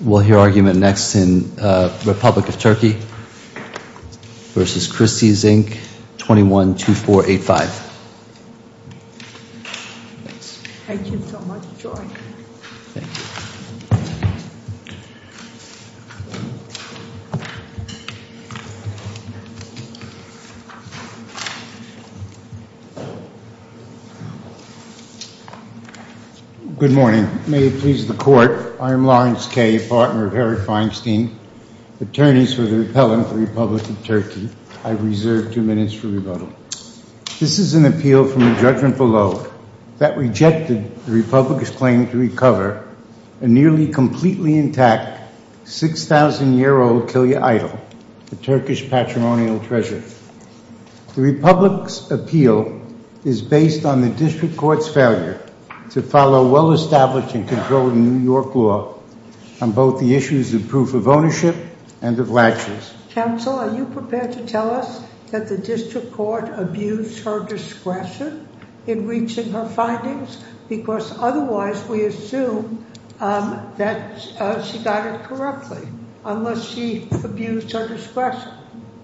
We'll hear argument next in Republic of Turkey v. Christie's Inc. 21-2485. Thank you so much, George. Thank you. Good morning. May it please the court, I am Lawrence Kay, partner of Herod Feinstein, attorneys for the repellent, the Republic of Turkey. I reserve two minutes for rebuttal. This is an appeal from the judgment below that rejected the Republic's claim to recover a nearly completely intact 6,000-year-old Kilya idol, a Turkish patrimonial treasure. The Republic's appeal is based on the district court's failure to follow well-established and controlled New York law on both the issues of proof of ownership and of latches. Counsel, are you prepared to tell us that the district court abused her discretion in reaching her findings? Because otherwise, we assume that she got it correctly, unless she abused her discretion,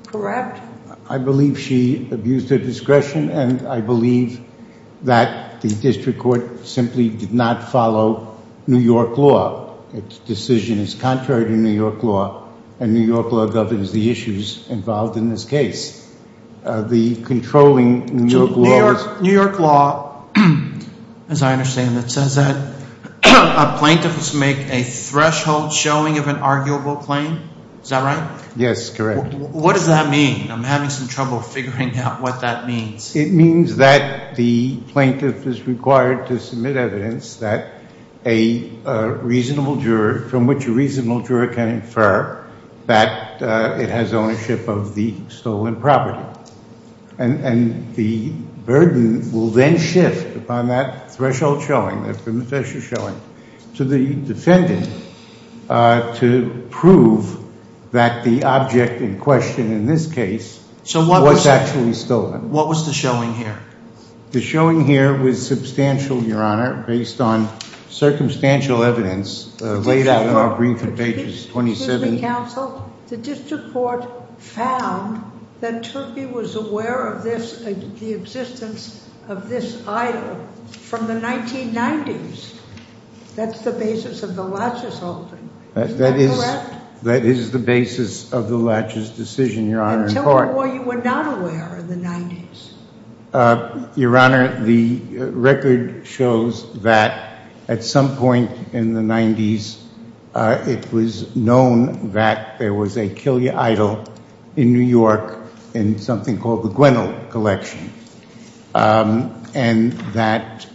correct? I believe she abused her discretion, and I believe that the district court simply did not follow New York law. Its decision is contrary to New York law, and New York law governs the issues involved in this case. The controlling New York law is- New York law, as I understand it, says that a plaintiff must make a threshold showing of an arguable claim. Is that right? Yes, correct. What does that mean? I'm having some trouble figuring out what that means. It means that the plaintiff is required to submit evidence that a reasonable juror- from which a reasonable juror can infer that it has ownership of the stolen property. And the burden will then shift upon that threshold showing, that threshold showing, to the defendant to prove that the object in question in this case was actually stolen. What was the showing here? The showing here was substantial, Your Honor, based on circumstantial evidence laid out in our brief in pages 27- Excuse me, counsel. The district court found that Turkey was aware of the existence of this idol from the 1990s. That's the basis of the Latches holding. Is that correct? That is the basis of the Latches decision, Your Honor, in court. Or were you not aware in the 90s? Your Honor, the record shows that at some point in the 90s, it was known that there was a Kill Your Idol in New York in something called the Gwendoll Collection. And that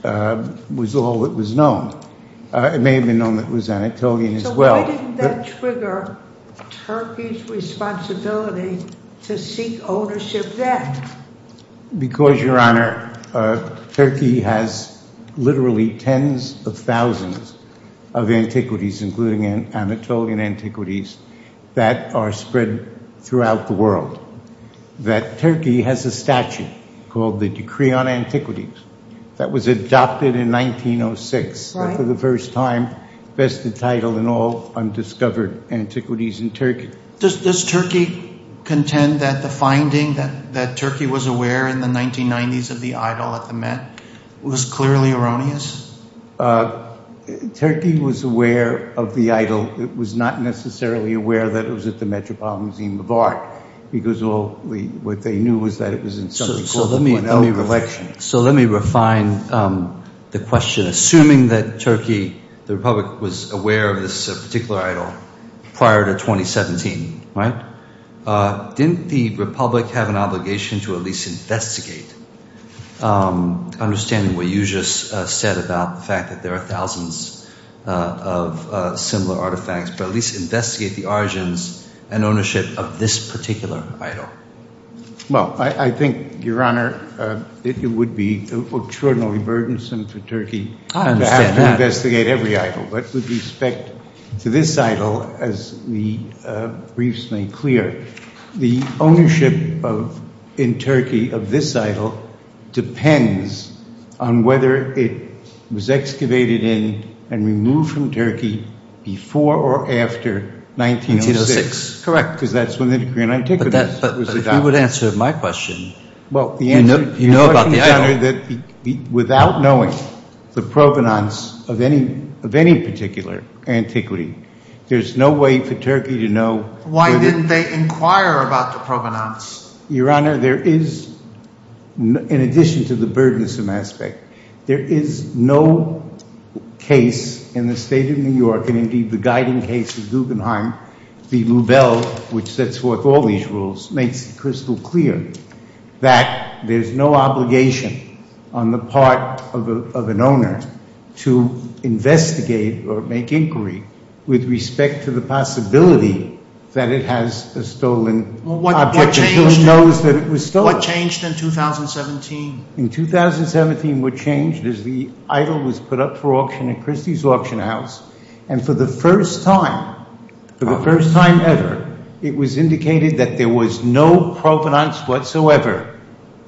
was all that was known. It may have been known that it was Anatolian as well. Why didn't that trigger Turkey's responsibility to seek ownership then? Because, Your Honor, Turkey has literally tens of thousands of antiquities, including Anatolian antiquities, that are spread throughout the world. That Turkey has a statute called the Decree on Antiquities that was adopted in 1906 for the first time, vested title in all undiscovered antiquities in Turkey. Does Turkey contend that the finding that Turkey was aware in the 1990s of the idol at the Met was clearly erroneous? Turkey was aware of the idol. It was not necessarily aware that it was at the Metropolitan Museum of Art, because what they knew was that it was in something called the Gwendoll Collection. So let me refine the question. Assuming that Turkey, the Republic, was aware of this particular idol prior to 2017, right, didn't the Republic have an obligation to at least investigate, understanding what you just said about the fact that there are thousands of similar artifacts, but at least investigate the origins and ownership of this particular idol? Well, I think, Your Honor, it would be extraordinarily burdensome for Turkey to have to investigate every idol. With respect to this idol, as the briefs made clear, the ownership in Turkey of this idol depends on whether it was excavated in and removed from Turkey before or after 1906. Correct, because that's when the Decree on Antiquities was adopted. But if you would answer my question, you know about the idol. Your Honor, without knowing the provenance of any particular antiquity, there's no way for Turkey to know. Why didn't they inquire about the provenance? Your Honor, there is, in addition to the burdensome aspect, there is no case in the State of New York, and indeed the guiding case of Guggenheim, the Rubel, which sets forth all these rules, makes it crystal clear that there's no obligation on the part of an owner to investigate or make inquiry with respect to the possibility that it has a stolen object. Who knows that it was stolen? What changed in 2017? In 2017, what changed is the idol was put up for auction at Christie's Auction House. And for the first time, for the first time ever, it was indicated that there was no provenance whatsoever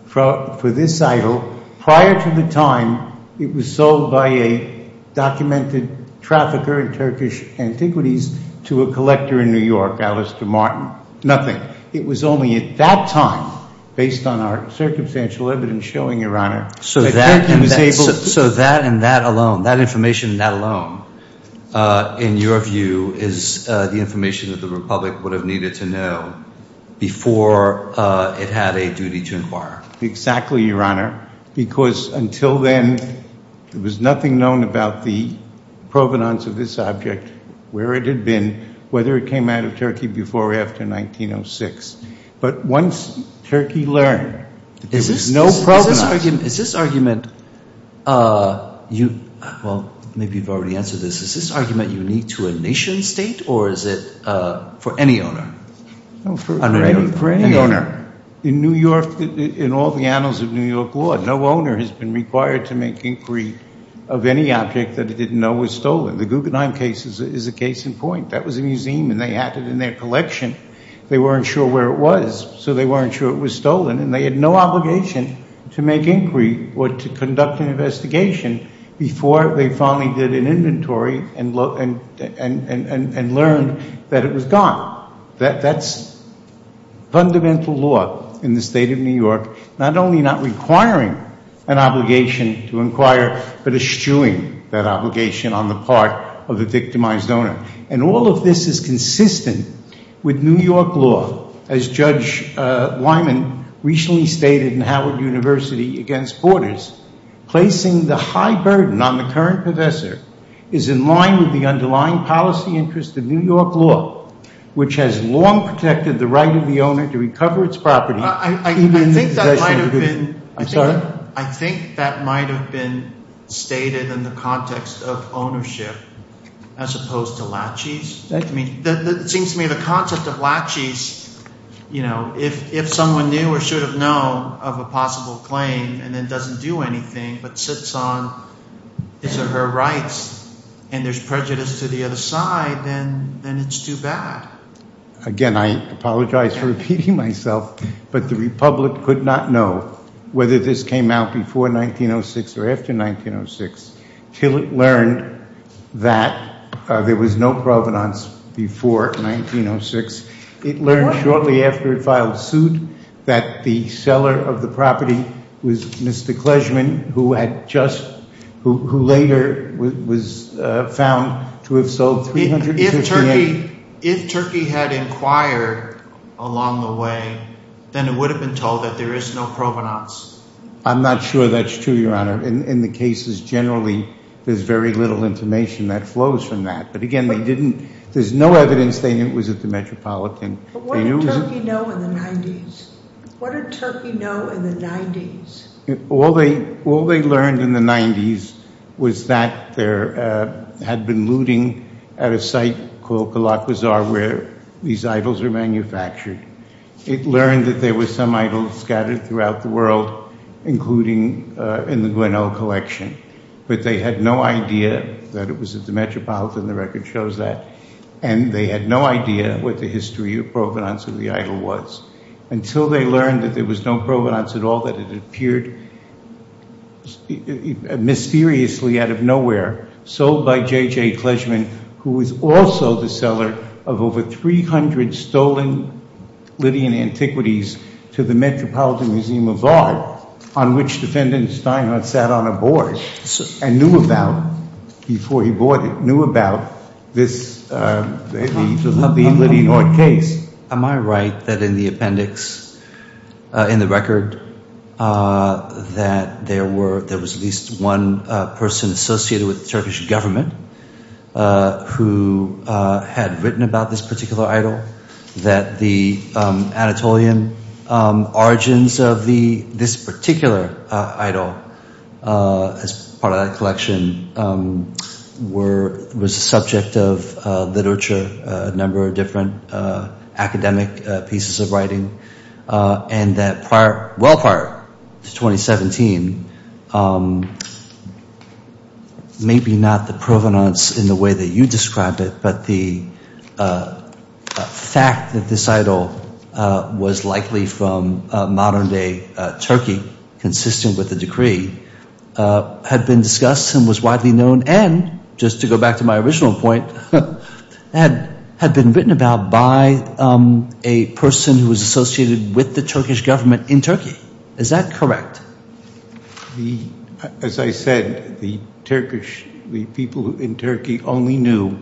for this idol prior to the time it was sold by a documented trafficker in Turkish antiquities to a collector in New York, Alastair Martin. Nothing. It was only at that time, based on our circumstantial evidence showing, Your Honor, that Turkey was able to... So that and that alone, that information and that alone, in your view, is the information that the Republic would have needed to know before it had a duty to inquire? Exactly, Your Honor. Because until then, there was nothing known about the provenance of this object, where it had been, whether it came out of Turkey before or after 1906. But once Turkey learned, there was no provenance. Is this argument, well, maybe you've already answered this. Is this argument unique to a nation state, or is it for any owner? For any owner. In New York, in all the annals of New York law, no owner has been required to make inquiry of any object that he didn't know was stolen. The Guggenheim case is a case in point. That was a museum, and they had it in their collection. They weren't sure where it was, so they weren't sure it was stolen. And they had no obligation to make inquiry or to conduct an investigation before they finally did an inventory and learned that it was gone. That's fundamental law in the state of New York. Not only not requiring an obligation to inquire, but eschewing that obligation on the part of the victimized owner. And all of this is consistent with New York law. As Judge Wyman recently stated in Howard University against Borders, placing the high burden on the current professor is in line with the underlying policy interest of New York law. Which has long protected the right of the owner to recover its property. I think that might have been stated in the context of ownership, as opposed to laches. It seems to me the concept of laches, if someone knew or should have known of a possible claim, and then doesn't do anything, but sits on his or her rights, and there's prejudice to the other side, then it's too bad. Again, I apologize for repeating myself, but the Republic could not know whether this came out before 1906 or after 1906, till it learned that there was no provenance before 1906. It learned shortly after it filed suit that the seller of the property was Mr. Kleshman, who later was found to have sold 358... If Turkey had inquired along the way, then it would have been told that there is no provenance. I'm not sure that's true, Your Honor. In the cases generally, there's very little information that flows from that. There's no evidence they knew it was at the Metropolitan. But what did Turkey know in the 90s? All they learned in the 90s was that there had been looting at a site called Galak Bazaar, where these idols were manufactured. It learned that there were some idols scattered throughout the world, including in the Gwinnell Collection. But they had no idea that it was at the Metropolitan. The record shows that. And they had no idea what the history of provenance of the idol was, until they learned that there was no provenance at all, that it appeared mysteriously out of nowhere, sold by J.J. Kleshman, who was also the seller of over 300 stolen Lydian antiquities to the Metropolitan Museum of Art, on which Defendant Steinhardt sat on a board and knew about, before he bought it, knew about the Lydian art case. Am I right that in the appendix, in the record, that there was at least one person associated with the Turkish government who had written about this particular idol, that the Anatolian origins of this particular idol, as part of that collection, was the subject of literature, a number of different academic pieces of writing, and that well prior to 2017, maybe not the provenance in the way that you described it, but the fact that this idol was likely from modern day Turkey, consistent with the decree, had been discussed and was widely known, and, just to go back to my original point, had been written about by a person who was associated with the Turkish government in Turkey. Is that correct? As I said, the people in Turkey only knew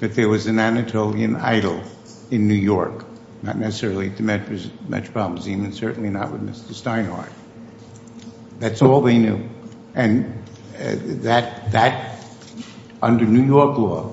that there was an Anatolian idol in New York, not necessarily at the Metropolitan Museum, and certainly not with Mr. Steinhardt. That's all they knew. And that, under New York law,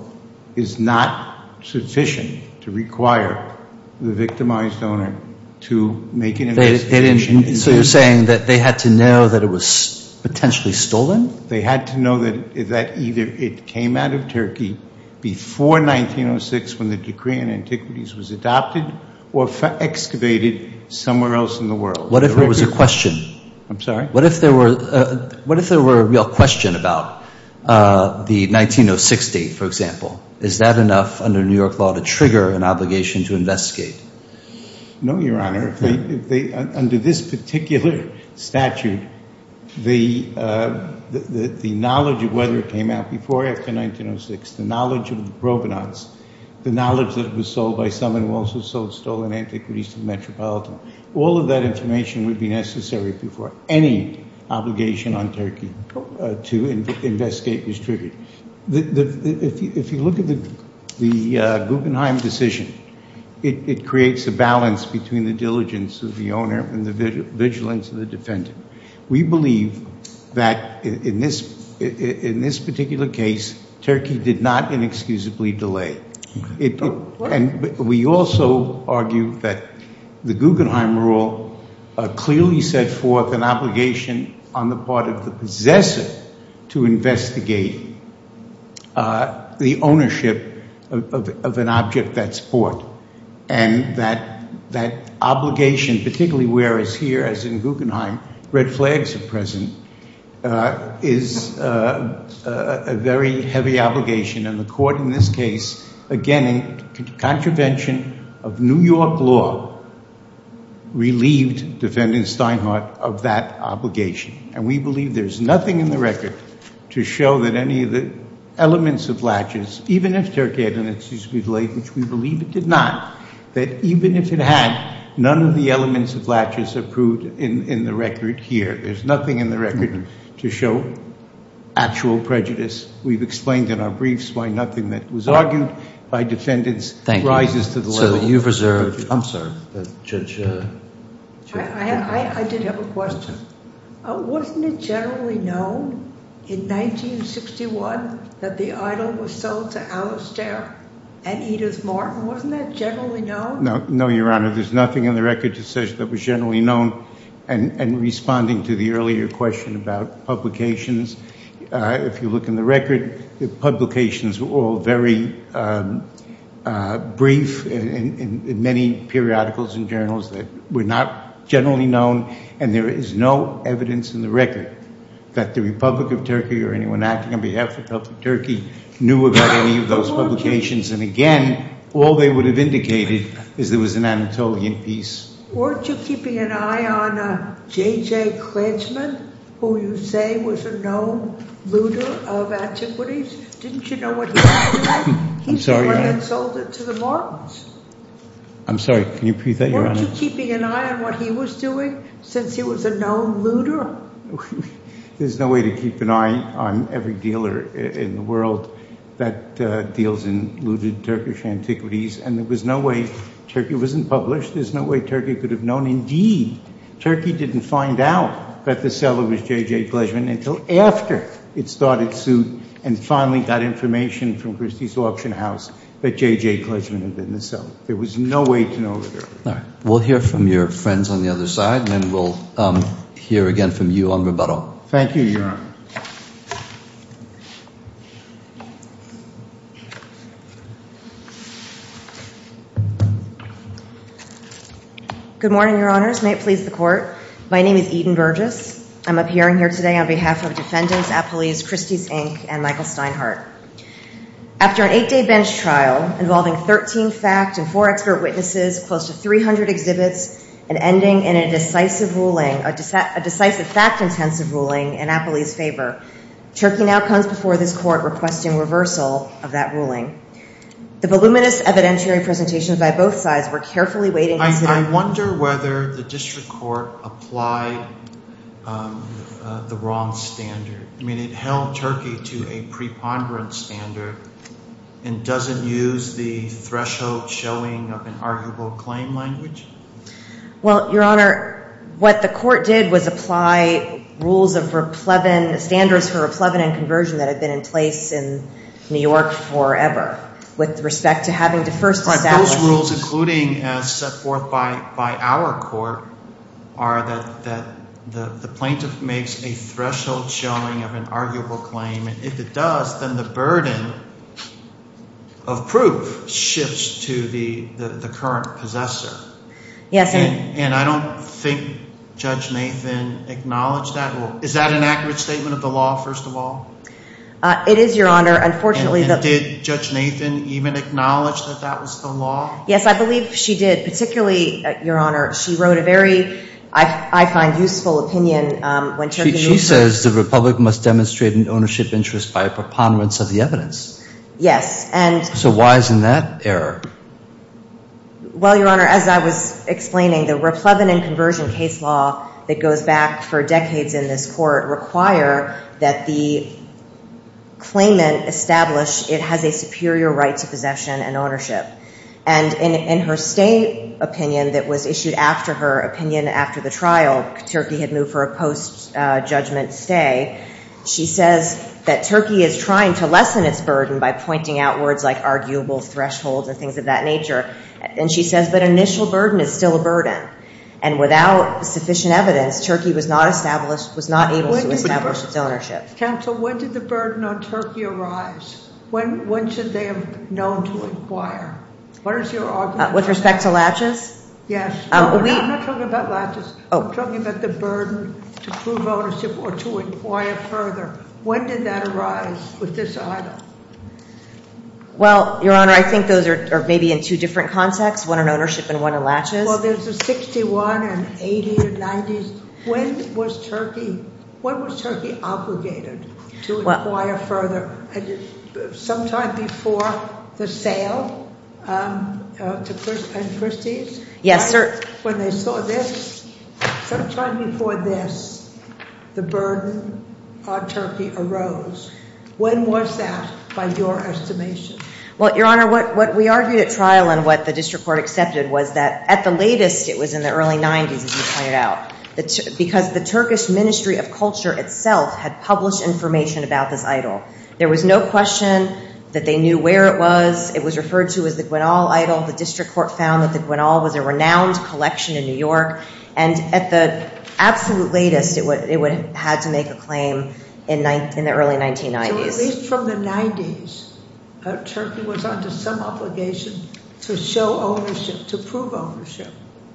is not sufficient to require the victimized owner to make an investigation. So you're saying that they had to know that it was potentially stolen? They had to know that either it came out of Turkey before 1906, when the decree on antiquities was adopted, or excavated somewhere else in the world. What if there was a question? I'm sorry? What if there were a real question about the 1906 date, for example? No, Your Honor. Under this particular statute, the knowledge of whether it came out before or after 1906, the knowledge of the provenance, the knowledge that it was sold by someone who also sold stolen antiquities to the Metropolitan, all of that information would be necessary before any obligation on Turkey to investigate this tribute. If you look at the Guggenheim decision, it creates a balance between the diligence of the owner and the vigilance of the defendant. We believe that in this particular case, Turkey did not inexcusably delay. We also argue that the Guggenheim rule clearly set forth an obligation on the part of the possessor to investigate the ownership of an object that's bought. And that obligation, particularly whereas here, as in Guggenheim, red flags are present, is a very heavy obligation. And the court in this case, again, in contravention of New York law, relieved Defendant Steinhardt of that obligation. And we believe there's nothing in the record to show that any of the elements of latches, even if Turkey had an excuse to delay, which we believe it did not, that even if it had, none of the elements of latches are proved in the record here. There's nothing in the record to show actual prejudice. We've explained in our briefs why nothing that was argued by defendants rises to the level of prejudice. Thank you. I'm sorry, Judge. I did have a question. Wasn't it generally known in 1961 that the idol was sold to Alistair and Edith Martin? Wasn't that generally known? No, Your Honor. There's nothing in the record that says it was generally known. And responding to the earlier question about publications, if you look in the record, the publications were all very brief in many periodicals and journals that were not generally known, and there is no evidence in the record that the Republic of Turkey or anyone acting on behalf of the Republic of Turkey knew about any of those publications. And, again, all they would have indicated is there was an Anatolian piece. Weren't you keeping an eye on J.J. Kretschmann, who you say was a known looter of antiquities? Didn't you know what he did? I'm sorry, Your Honor. He's the one that sold it to the Martins. I'm sorry. Can you repeat that, Your Honor? Weren't you keeping an eye on what he was doing since he was a known looter? There's no way to keep an eye on every dealer in the world that deals in looted Turkish antiquities, and there was no way. Turkey wasn't published. There's no way Turkey could have known indeed. Turkey didn't find out that the seller was J.J. Kretschmann until after it started suit and finally got information from Christie's Auction House that J.J. Kretschmann had been the seller. There was no way to know that. All right. We'll hear from your friends on the other side, and then we'll hear again from you on rebuttal. Thank you, Your Honor. Good morning, Your Honors. May it please the Court. My name is Eden Burgess. I'm appearing here today on behalf of defendants at police, Christie's, Inc., and Michael Steinhardt. After an eight-day bench trial involving 13 fact and four expert witnesses, close to 300 exhibits, and ending in a decisive ruling, a decisive fact-intensive ruling in Appley's favor, Turkey now comes before this Court requesting reversal of that ruling. The voluminous evidentiary presentations by both sides were carefully weighed and considered. I wonder whether the district court applied the wrong standard. I mean, it held Turkey to a preponderance standard and doesn't use the threshold showing of an arguable claim language? Well, Your Honor, what the Court did was apply rules of standards for replevin and conversion that have been in place in New York forever with respect to having to first establish. And those rules, including as set forth by our court, are that the plaintiff makes a threshold showing of an arguable claim. And if it does, then the burden of proof shifts to the current possessor. Yes. And I don't think Judge Nathan acknowledged that. Is that an accurate statement of the law, first of all? It is, Your Honor. And did Judge Nathan even acknowledge that that was the law? Yes, I believe she did. Particularly, Your Honor, she wrote a very, I find, useful opinion. She says the Republic must demonstrate an ownership interest by a preponderance of the evidence. Yes. So why isn't that error? Well, Your Honor, as I was explaining, the replevin and conversion case law that goes back for decades in this Court require that the claimant establish it has a superior right to possession and ownership. And in her state opinion that was issued after her opinion after the trial, Turkey had moved for a post-judgment stay, she says that Turkey is trying to lessen its burden by pointing out words like arguable thresholds and things of that nature. And she says that initial burden is still a burden. And without sufficient evidence, Turkey was not able to establish its ownership. Counsel, when did the burden on Turkey arise? When should they have known to inquire? What is your argument? With respect to latches? Yes. I'm not talking about latches. I'm talking about the burden to prove ownership or to inquire further. When did that arise with this item? Well, Your Honor, I think those are maybe in two different contexts, one in ownership and one in latches. Well, there's a 61, an 80, a 90. When was Turkey obligated to inquire further? Sometime before the sale at Christie's? Yes, sir. When they saw this? Sometime before this, the burden on Turkey arose. When was that by your estimation? Well, Your Honor, what we argued at trial and what the district court accepted was that at the latest, it was in the early 90s, as you pointed out, because the Turkish Ministry of Culture itself had published information about this idol. There was no question that they knew where it was. It was referred to as the Gwinal Idol. The district court found that the Gwinal was a renowned collection in New York. And at the absolute latest, it had to make a claim in the early 1990s. At least from the 90s, Turkey was under some obligation to show ownership, to prove ownership.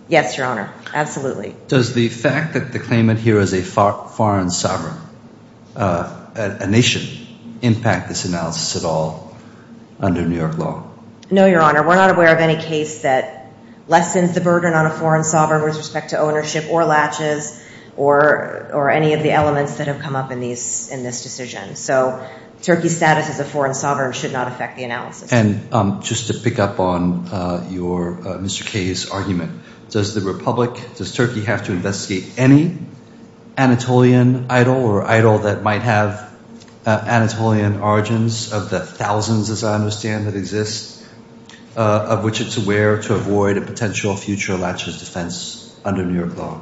Yes, Your Honor, absolutely. Does the fact that the claimant here is a foreign sovereign, a nation, impact this analysis at all under New York law? No, Your Honor. We're not aware of any case that lessens the burden on a foreign sovereign with respect to ownership or latches or any of the elements that have come up in this decision. So Turkey's status as a foreign sovereign should not affect the analysis. And just to pick up on Mr. Kaye's argument, does the republic, does Turkey have to investigate any Anatolian idol or idol that might have Anatolian origins of the thousands, as I understand, that exist, of which it's aware to avoid a potential future latches defense under New York law?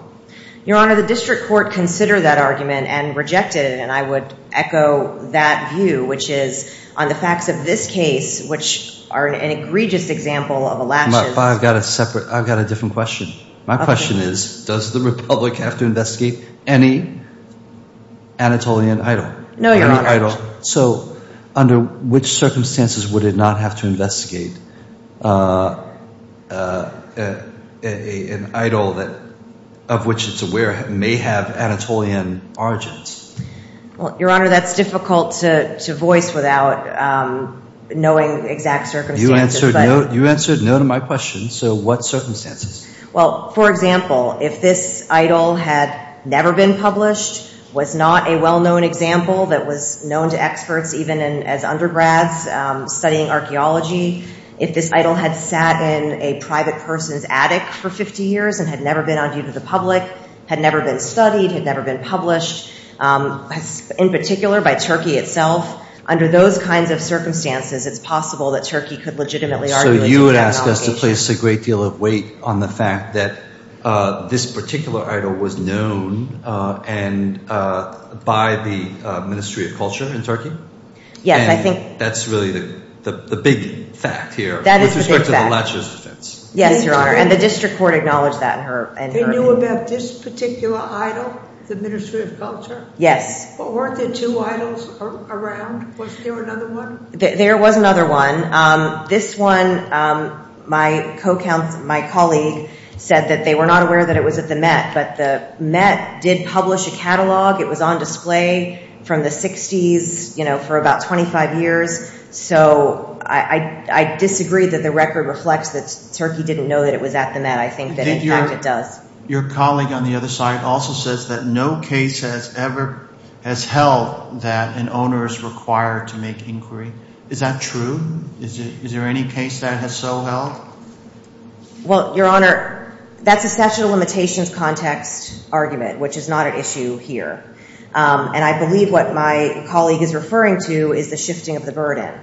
Your Honor, the district court considered that argument and rejected it. And I would echo that view, which is on the facts of this case, which are an egregious example of a latches. But I've got a separate, I've got a different question. My question is, does the republic have to investigate any Anatolian idol? No, Your Honor. So under which circumstances would it not have to investigate an idol of which it's aware may have Anatolian origins? Well, Your Honor, that's difficult to voice without knowing exact circumstances. You answered no to my question. So what circumstances? Well, for example, if this idol had never been published, was not a well-known example that was known to experts, even as undergrads studying archaeology, if this idol had sat in a private person's attic for 50 years and had never been on view to the public, had never been studied, had never been published, in particular by Turkey itself, under those kinds of circumstances, it's possible that Turkey could legitimately argue against that allegation. So you're asking us to place a great deal of weight on the fact that this particular idol was known by the Ministry of Culture in Turkey? Yes, I think. And that's really the big fact here. That is the big fact. With respect to the latches offense. Yes, Your Honor, and the district court acknowledged that in her opinion. They knew about this particular idol, the Ministry of Culture? Yes. But weren't there two idols around? Was there another one? There was another one. This one, my colleague said that they were not aware that it was at the Met, but the Met did publish a catalog. It was on display from the 60s for about 25 years. So I disagree that the record reflects that Turkey didn't know that it was at the Met. I think that, in fact, it does. Your colleague on the other side also says that no case has ever held that an owner is required to make inquiry. Is that true? Is there any case that has so held? Well, Your Honor, that's a statute of limitations context argument, which is not an issue here. And I believe what my colleague is referring to is the shifting of the burden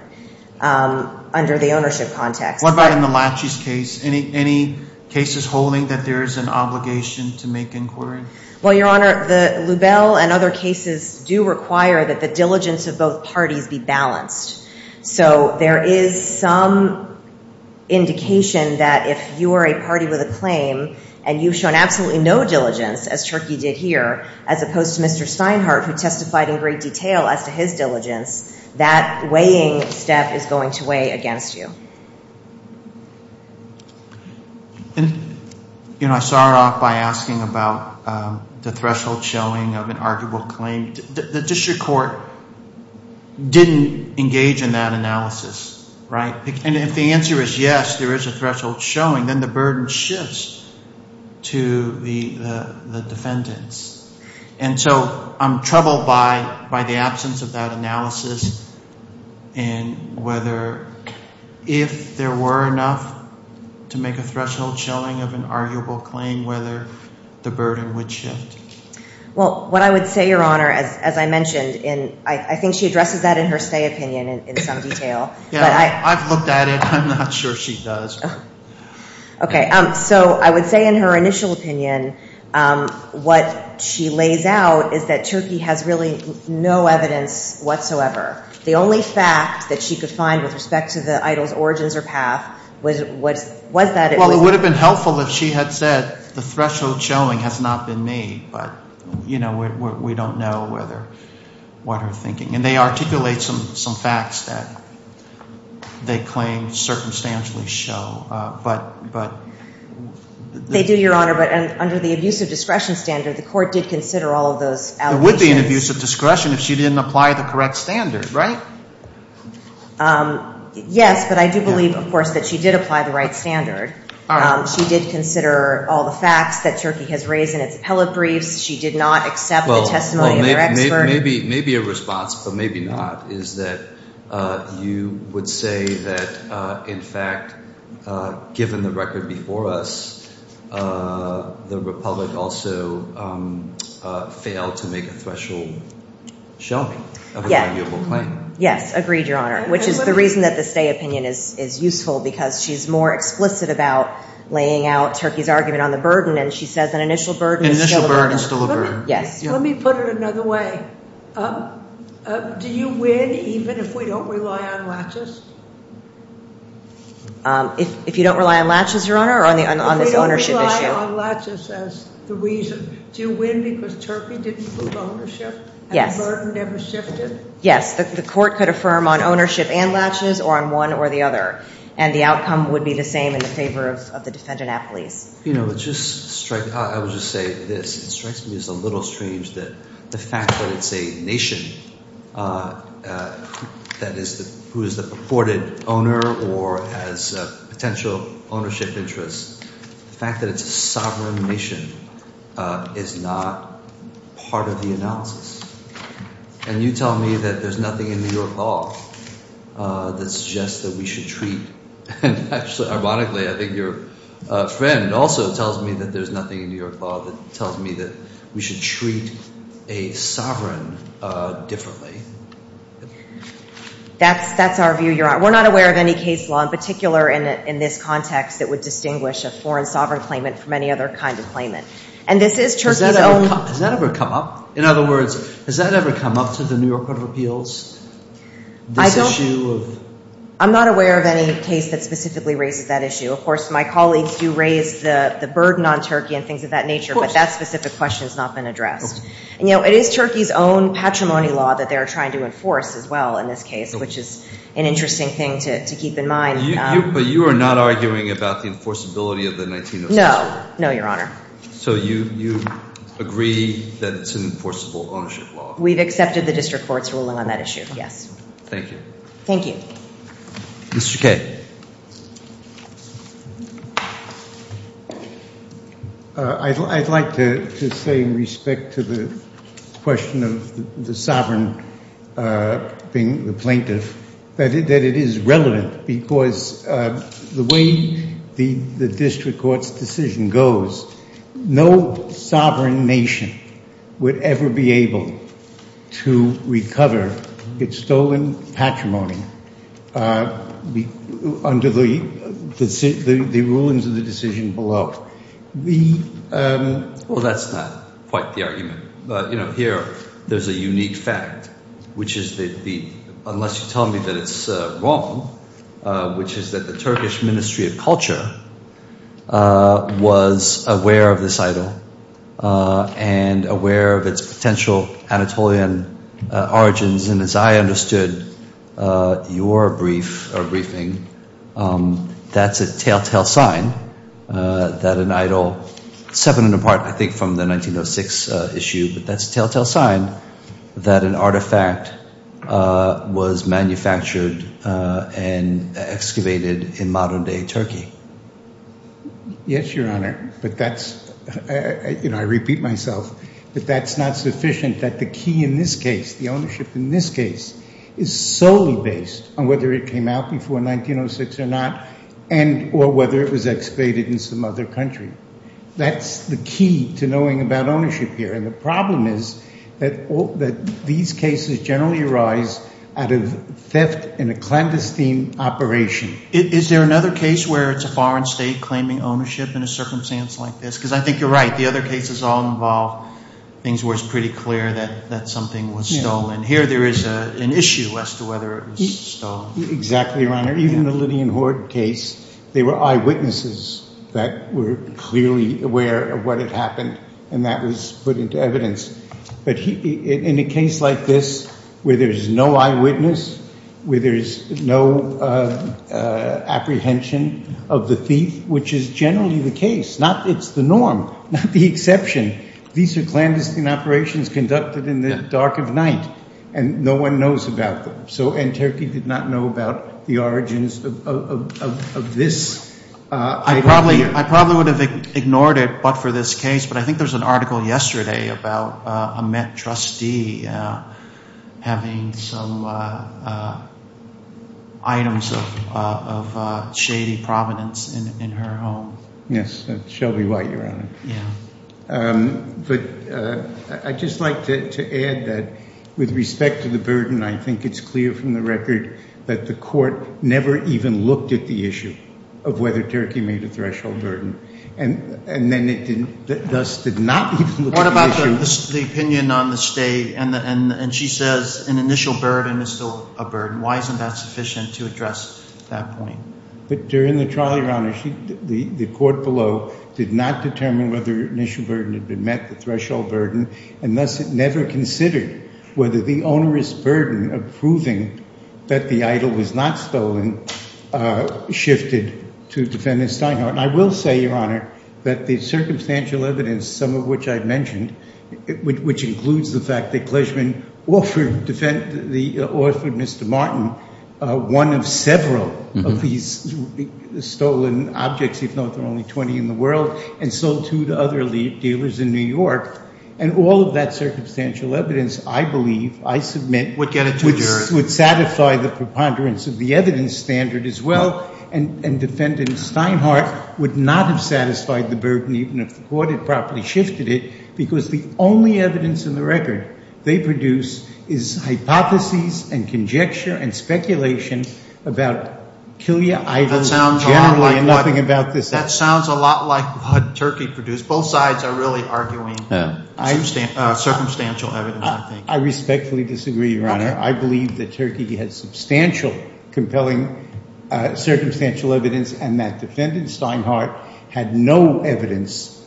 under the ownership context. What about in the latches case? Any cases holding that there is an obligation to make inquiry? Well, Your Honor, the Lubell and other cases do require that the diligence of both parties be balanced. So there is some indication that if you are a party with a claim and you've shown absolutely no diligence, as Turkey did here, as opposed to Mr. Steinhardt, who testified in great detail as to his diligence, that weighing step is going to weigh against you. And, you know, I start off by asking about the threshold showing of an arguable claim. The district court didn't engage in that analysis, right? And if the answer is yes, there is a threshold showing, then the burden shifts to the defendants. And so I'm troubled by the absence of that analysis and whether if there were enough to make a threshold showing of an arguable claim, whether the burden would shift. Well, what I would say, Your Honor, as I mentioned, and I think she addresses that in her stay opinion in some detail. Yeah, I've looked at it. I'm not sure she does. Okay. So I would say in her initial opinion, what she lays out is that Turkey has really no evidence whatsoever. The only fact that she could find with respect to the idol's origins or path was that it was. It would have been helpful if she had said the threshold showing has not been made, but, you know, we don't know what her thinking. And they articulate some facts that they claim circumstantially show, but. They do, Your Honor, but under the abusive discretion standard, the court did consider all of those allegations. It would be an abusive discretion if she didn't apply the correct standard, right? Yes, but I do believe, of course, that she did apply the right standard. She did consider all the facts that Turkey has raised in its appellate briefs. She did not accept the testimony of their expert. Maybe a response, but maybe not, is that you would say that, in fact, given the record before us, the Republic also failed to make a threshold showing of an arguable claim. Yes, agreed, Your Honor, which is the reason that the stay opinion is useful, because she's more explicit about laying out Turkey's argument on the burden, and she says an initial burden is still a burden. Yes. Let me put it another way. Do you win even if we don't rely on latches? If you don't rely on latches, Your Honor, or on this ownership issue? If we don't rely on latches as the reason, do you win because Turkey didn't prove ownership? Yes. And the burden never shifted? Yes. The court could affirm on ownership and latches or on one or the other, and the outcome would be the same in favor of the defendant at police. You know, it just strikes – I would just say this. It strikes me as a little strange that the fact that it's a nation that is the – who is the purported owner or has potential ownership interests, the fact that it's a sovereign nation is not part of the analysis. And you tell me that there's nothing in New York law that suggests that we should treat – and actually, ironically, I think your friend also tells me that there's nothing in New York law that tells me that we should treat a sovereign differently. That's our view, Your Honor. We're not aware of any case law, in particular in this context, that would distinguish a foreign sovereign claimant from any other kind of claimant. And this is Turkey's own – Has that ever come up? In other words, has that ever come up to the New York Court of Appeals? I don't – This issue of – I'm not aware of any case that specifically raises that issue. Of course, my colleagues do raise the burden on Turkey and things of that nature. Of course. But that specific question has not been addressed. And, you know, it is Turkey's own patrimony law that they are trying to enforce as well in this case, which is an interesting thing to keep in mind. But you are not arguing about the enforceability of the 1906 rule? No. No, Your Honor. So you agree that it's an enforceable ownership law? We've accepted the district court's ruling on that issue, yes. Thank you. Thank you. Mr. Kaye. I'd like to say, in respect to the question of the sovereign being the plaintiff, that it is relevant because the way the district court's decision goes, no sovereign nation would ever be able to recover its stolen patrimony under the rulings of the decision below. Well, that's not quite the argument. But, you know, here there's a unique fact, which is that the, unless you tell me that it's wrong, which is that the Turkish Ministry of Culture was aware of this idol and aware of its potential Anatolian origins. And as I understood your brief or briefing, that's a telltale sign that an idol, separate and apart, I think, from the 1906 issue, but that's a telltale sign that an artifact was manufactured and excavated in modern-day Turkey. Yes, Your Honor. But that's, you know, I repeat myself, but that's not sufficient that the key in this case, the ownership in this case, is solely based on whether it came out before 1906 or not and or whether it was excavated in some other country. That's the key to knowing about ownership here. And the problem is that these cases generally arise out of theft in a clandestine operation. Is there another case where it's a foreign state claiming ownership in a circumstance like this? Because I think you're right. The other cases all involve things where it's pretty clear that something was stolen. Here there is an issue as to whether it was stolen. Exactly, Your Honor. Even the Lydian Horde case, there were eyewitnesses that were clearly aware of what had happened, and that was put into evidence. But in a case like this, where there's no eyewitness, where there's no apprehension of the thief, which is generally the case, it's the norm, not the exception, these are clandestine operations conducted in the dark of night, and no one knows about them. So Anterkey did not know about the origins of this. I probably would have ignored it but for this case, but I think there was an article yesterday about a Met trustee having some items of shady provenance in her home. Yes, Shelby White, Your Honor. But I'd just like to add that with respect to the burden, I think it's clear from the record that the court never even looked at the issue of whether Turkey made a threshold burden, and thus did not even look at the issue. What about the opinion on the state, and she says an initial burden is still a burden. Why isn't that sufficient to address that point? But during the trial, Your Honor, the court below did not determine whether initial burden had been met, the threshold burden, and thus it never considered whether the onerous burden of proving that the idol was not stolen shifted to Defendant Steinhardt. And I will say, Your Honor, that the circumstantial evidence, some of which I've mentioned, which includes the fact that Kleshman offered Mr. Martin one of several of these stolen objects, if not there are only 20 in the world, and sold two to other dealers in New York. And all of that circumstantial evidence, I believe, I submit- Would get it to a jury. Would satisfy the preponderance of the evidence standard as well, and Defendant Steinhardt would not have satisfied the burden even if the court had properly shifted it, because the only evidence in the record they produce is hypotheses and conjecture and speculation about Killia items generally, and nothing about this item. That sounds a lot like what Turkey produced. Both sides are really arguing circumstantial evidence, I think. I respectfully disagree, Your Honor. I believe that Turkey has substantial compelling circumstantial evidence, and that Defendant Steinhardt had no evidence,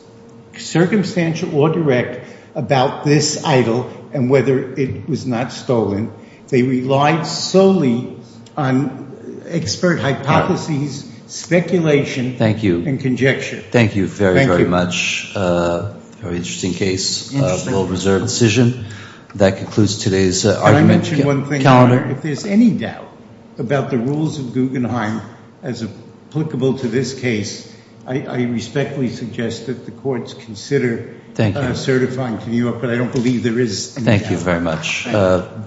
circumstantial or direct, about this idol and whether it was not stolen. They relied solely on expert hypotheses, speculation, and conjecture. Thank you. Thank you very, very much. Very interesting case. Well-reserved decision. That concludes today's argument. Can I mention one thing? Calendar? If there's any doubt about the rules of Guggenheim as applicable to this case, I respectfully suggest that the courts consider- Thank you. Certifying to New York, but I don't believe there is- Thank you very much.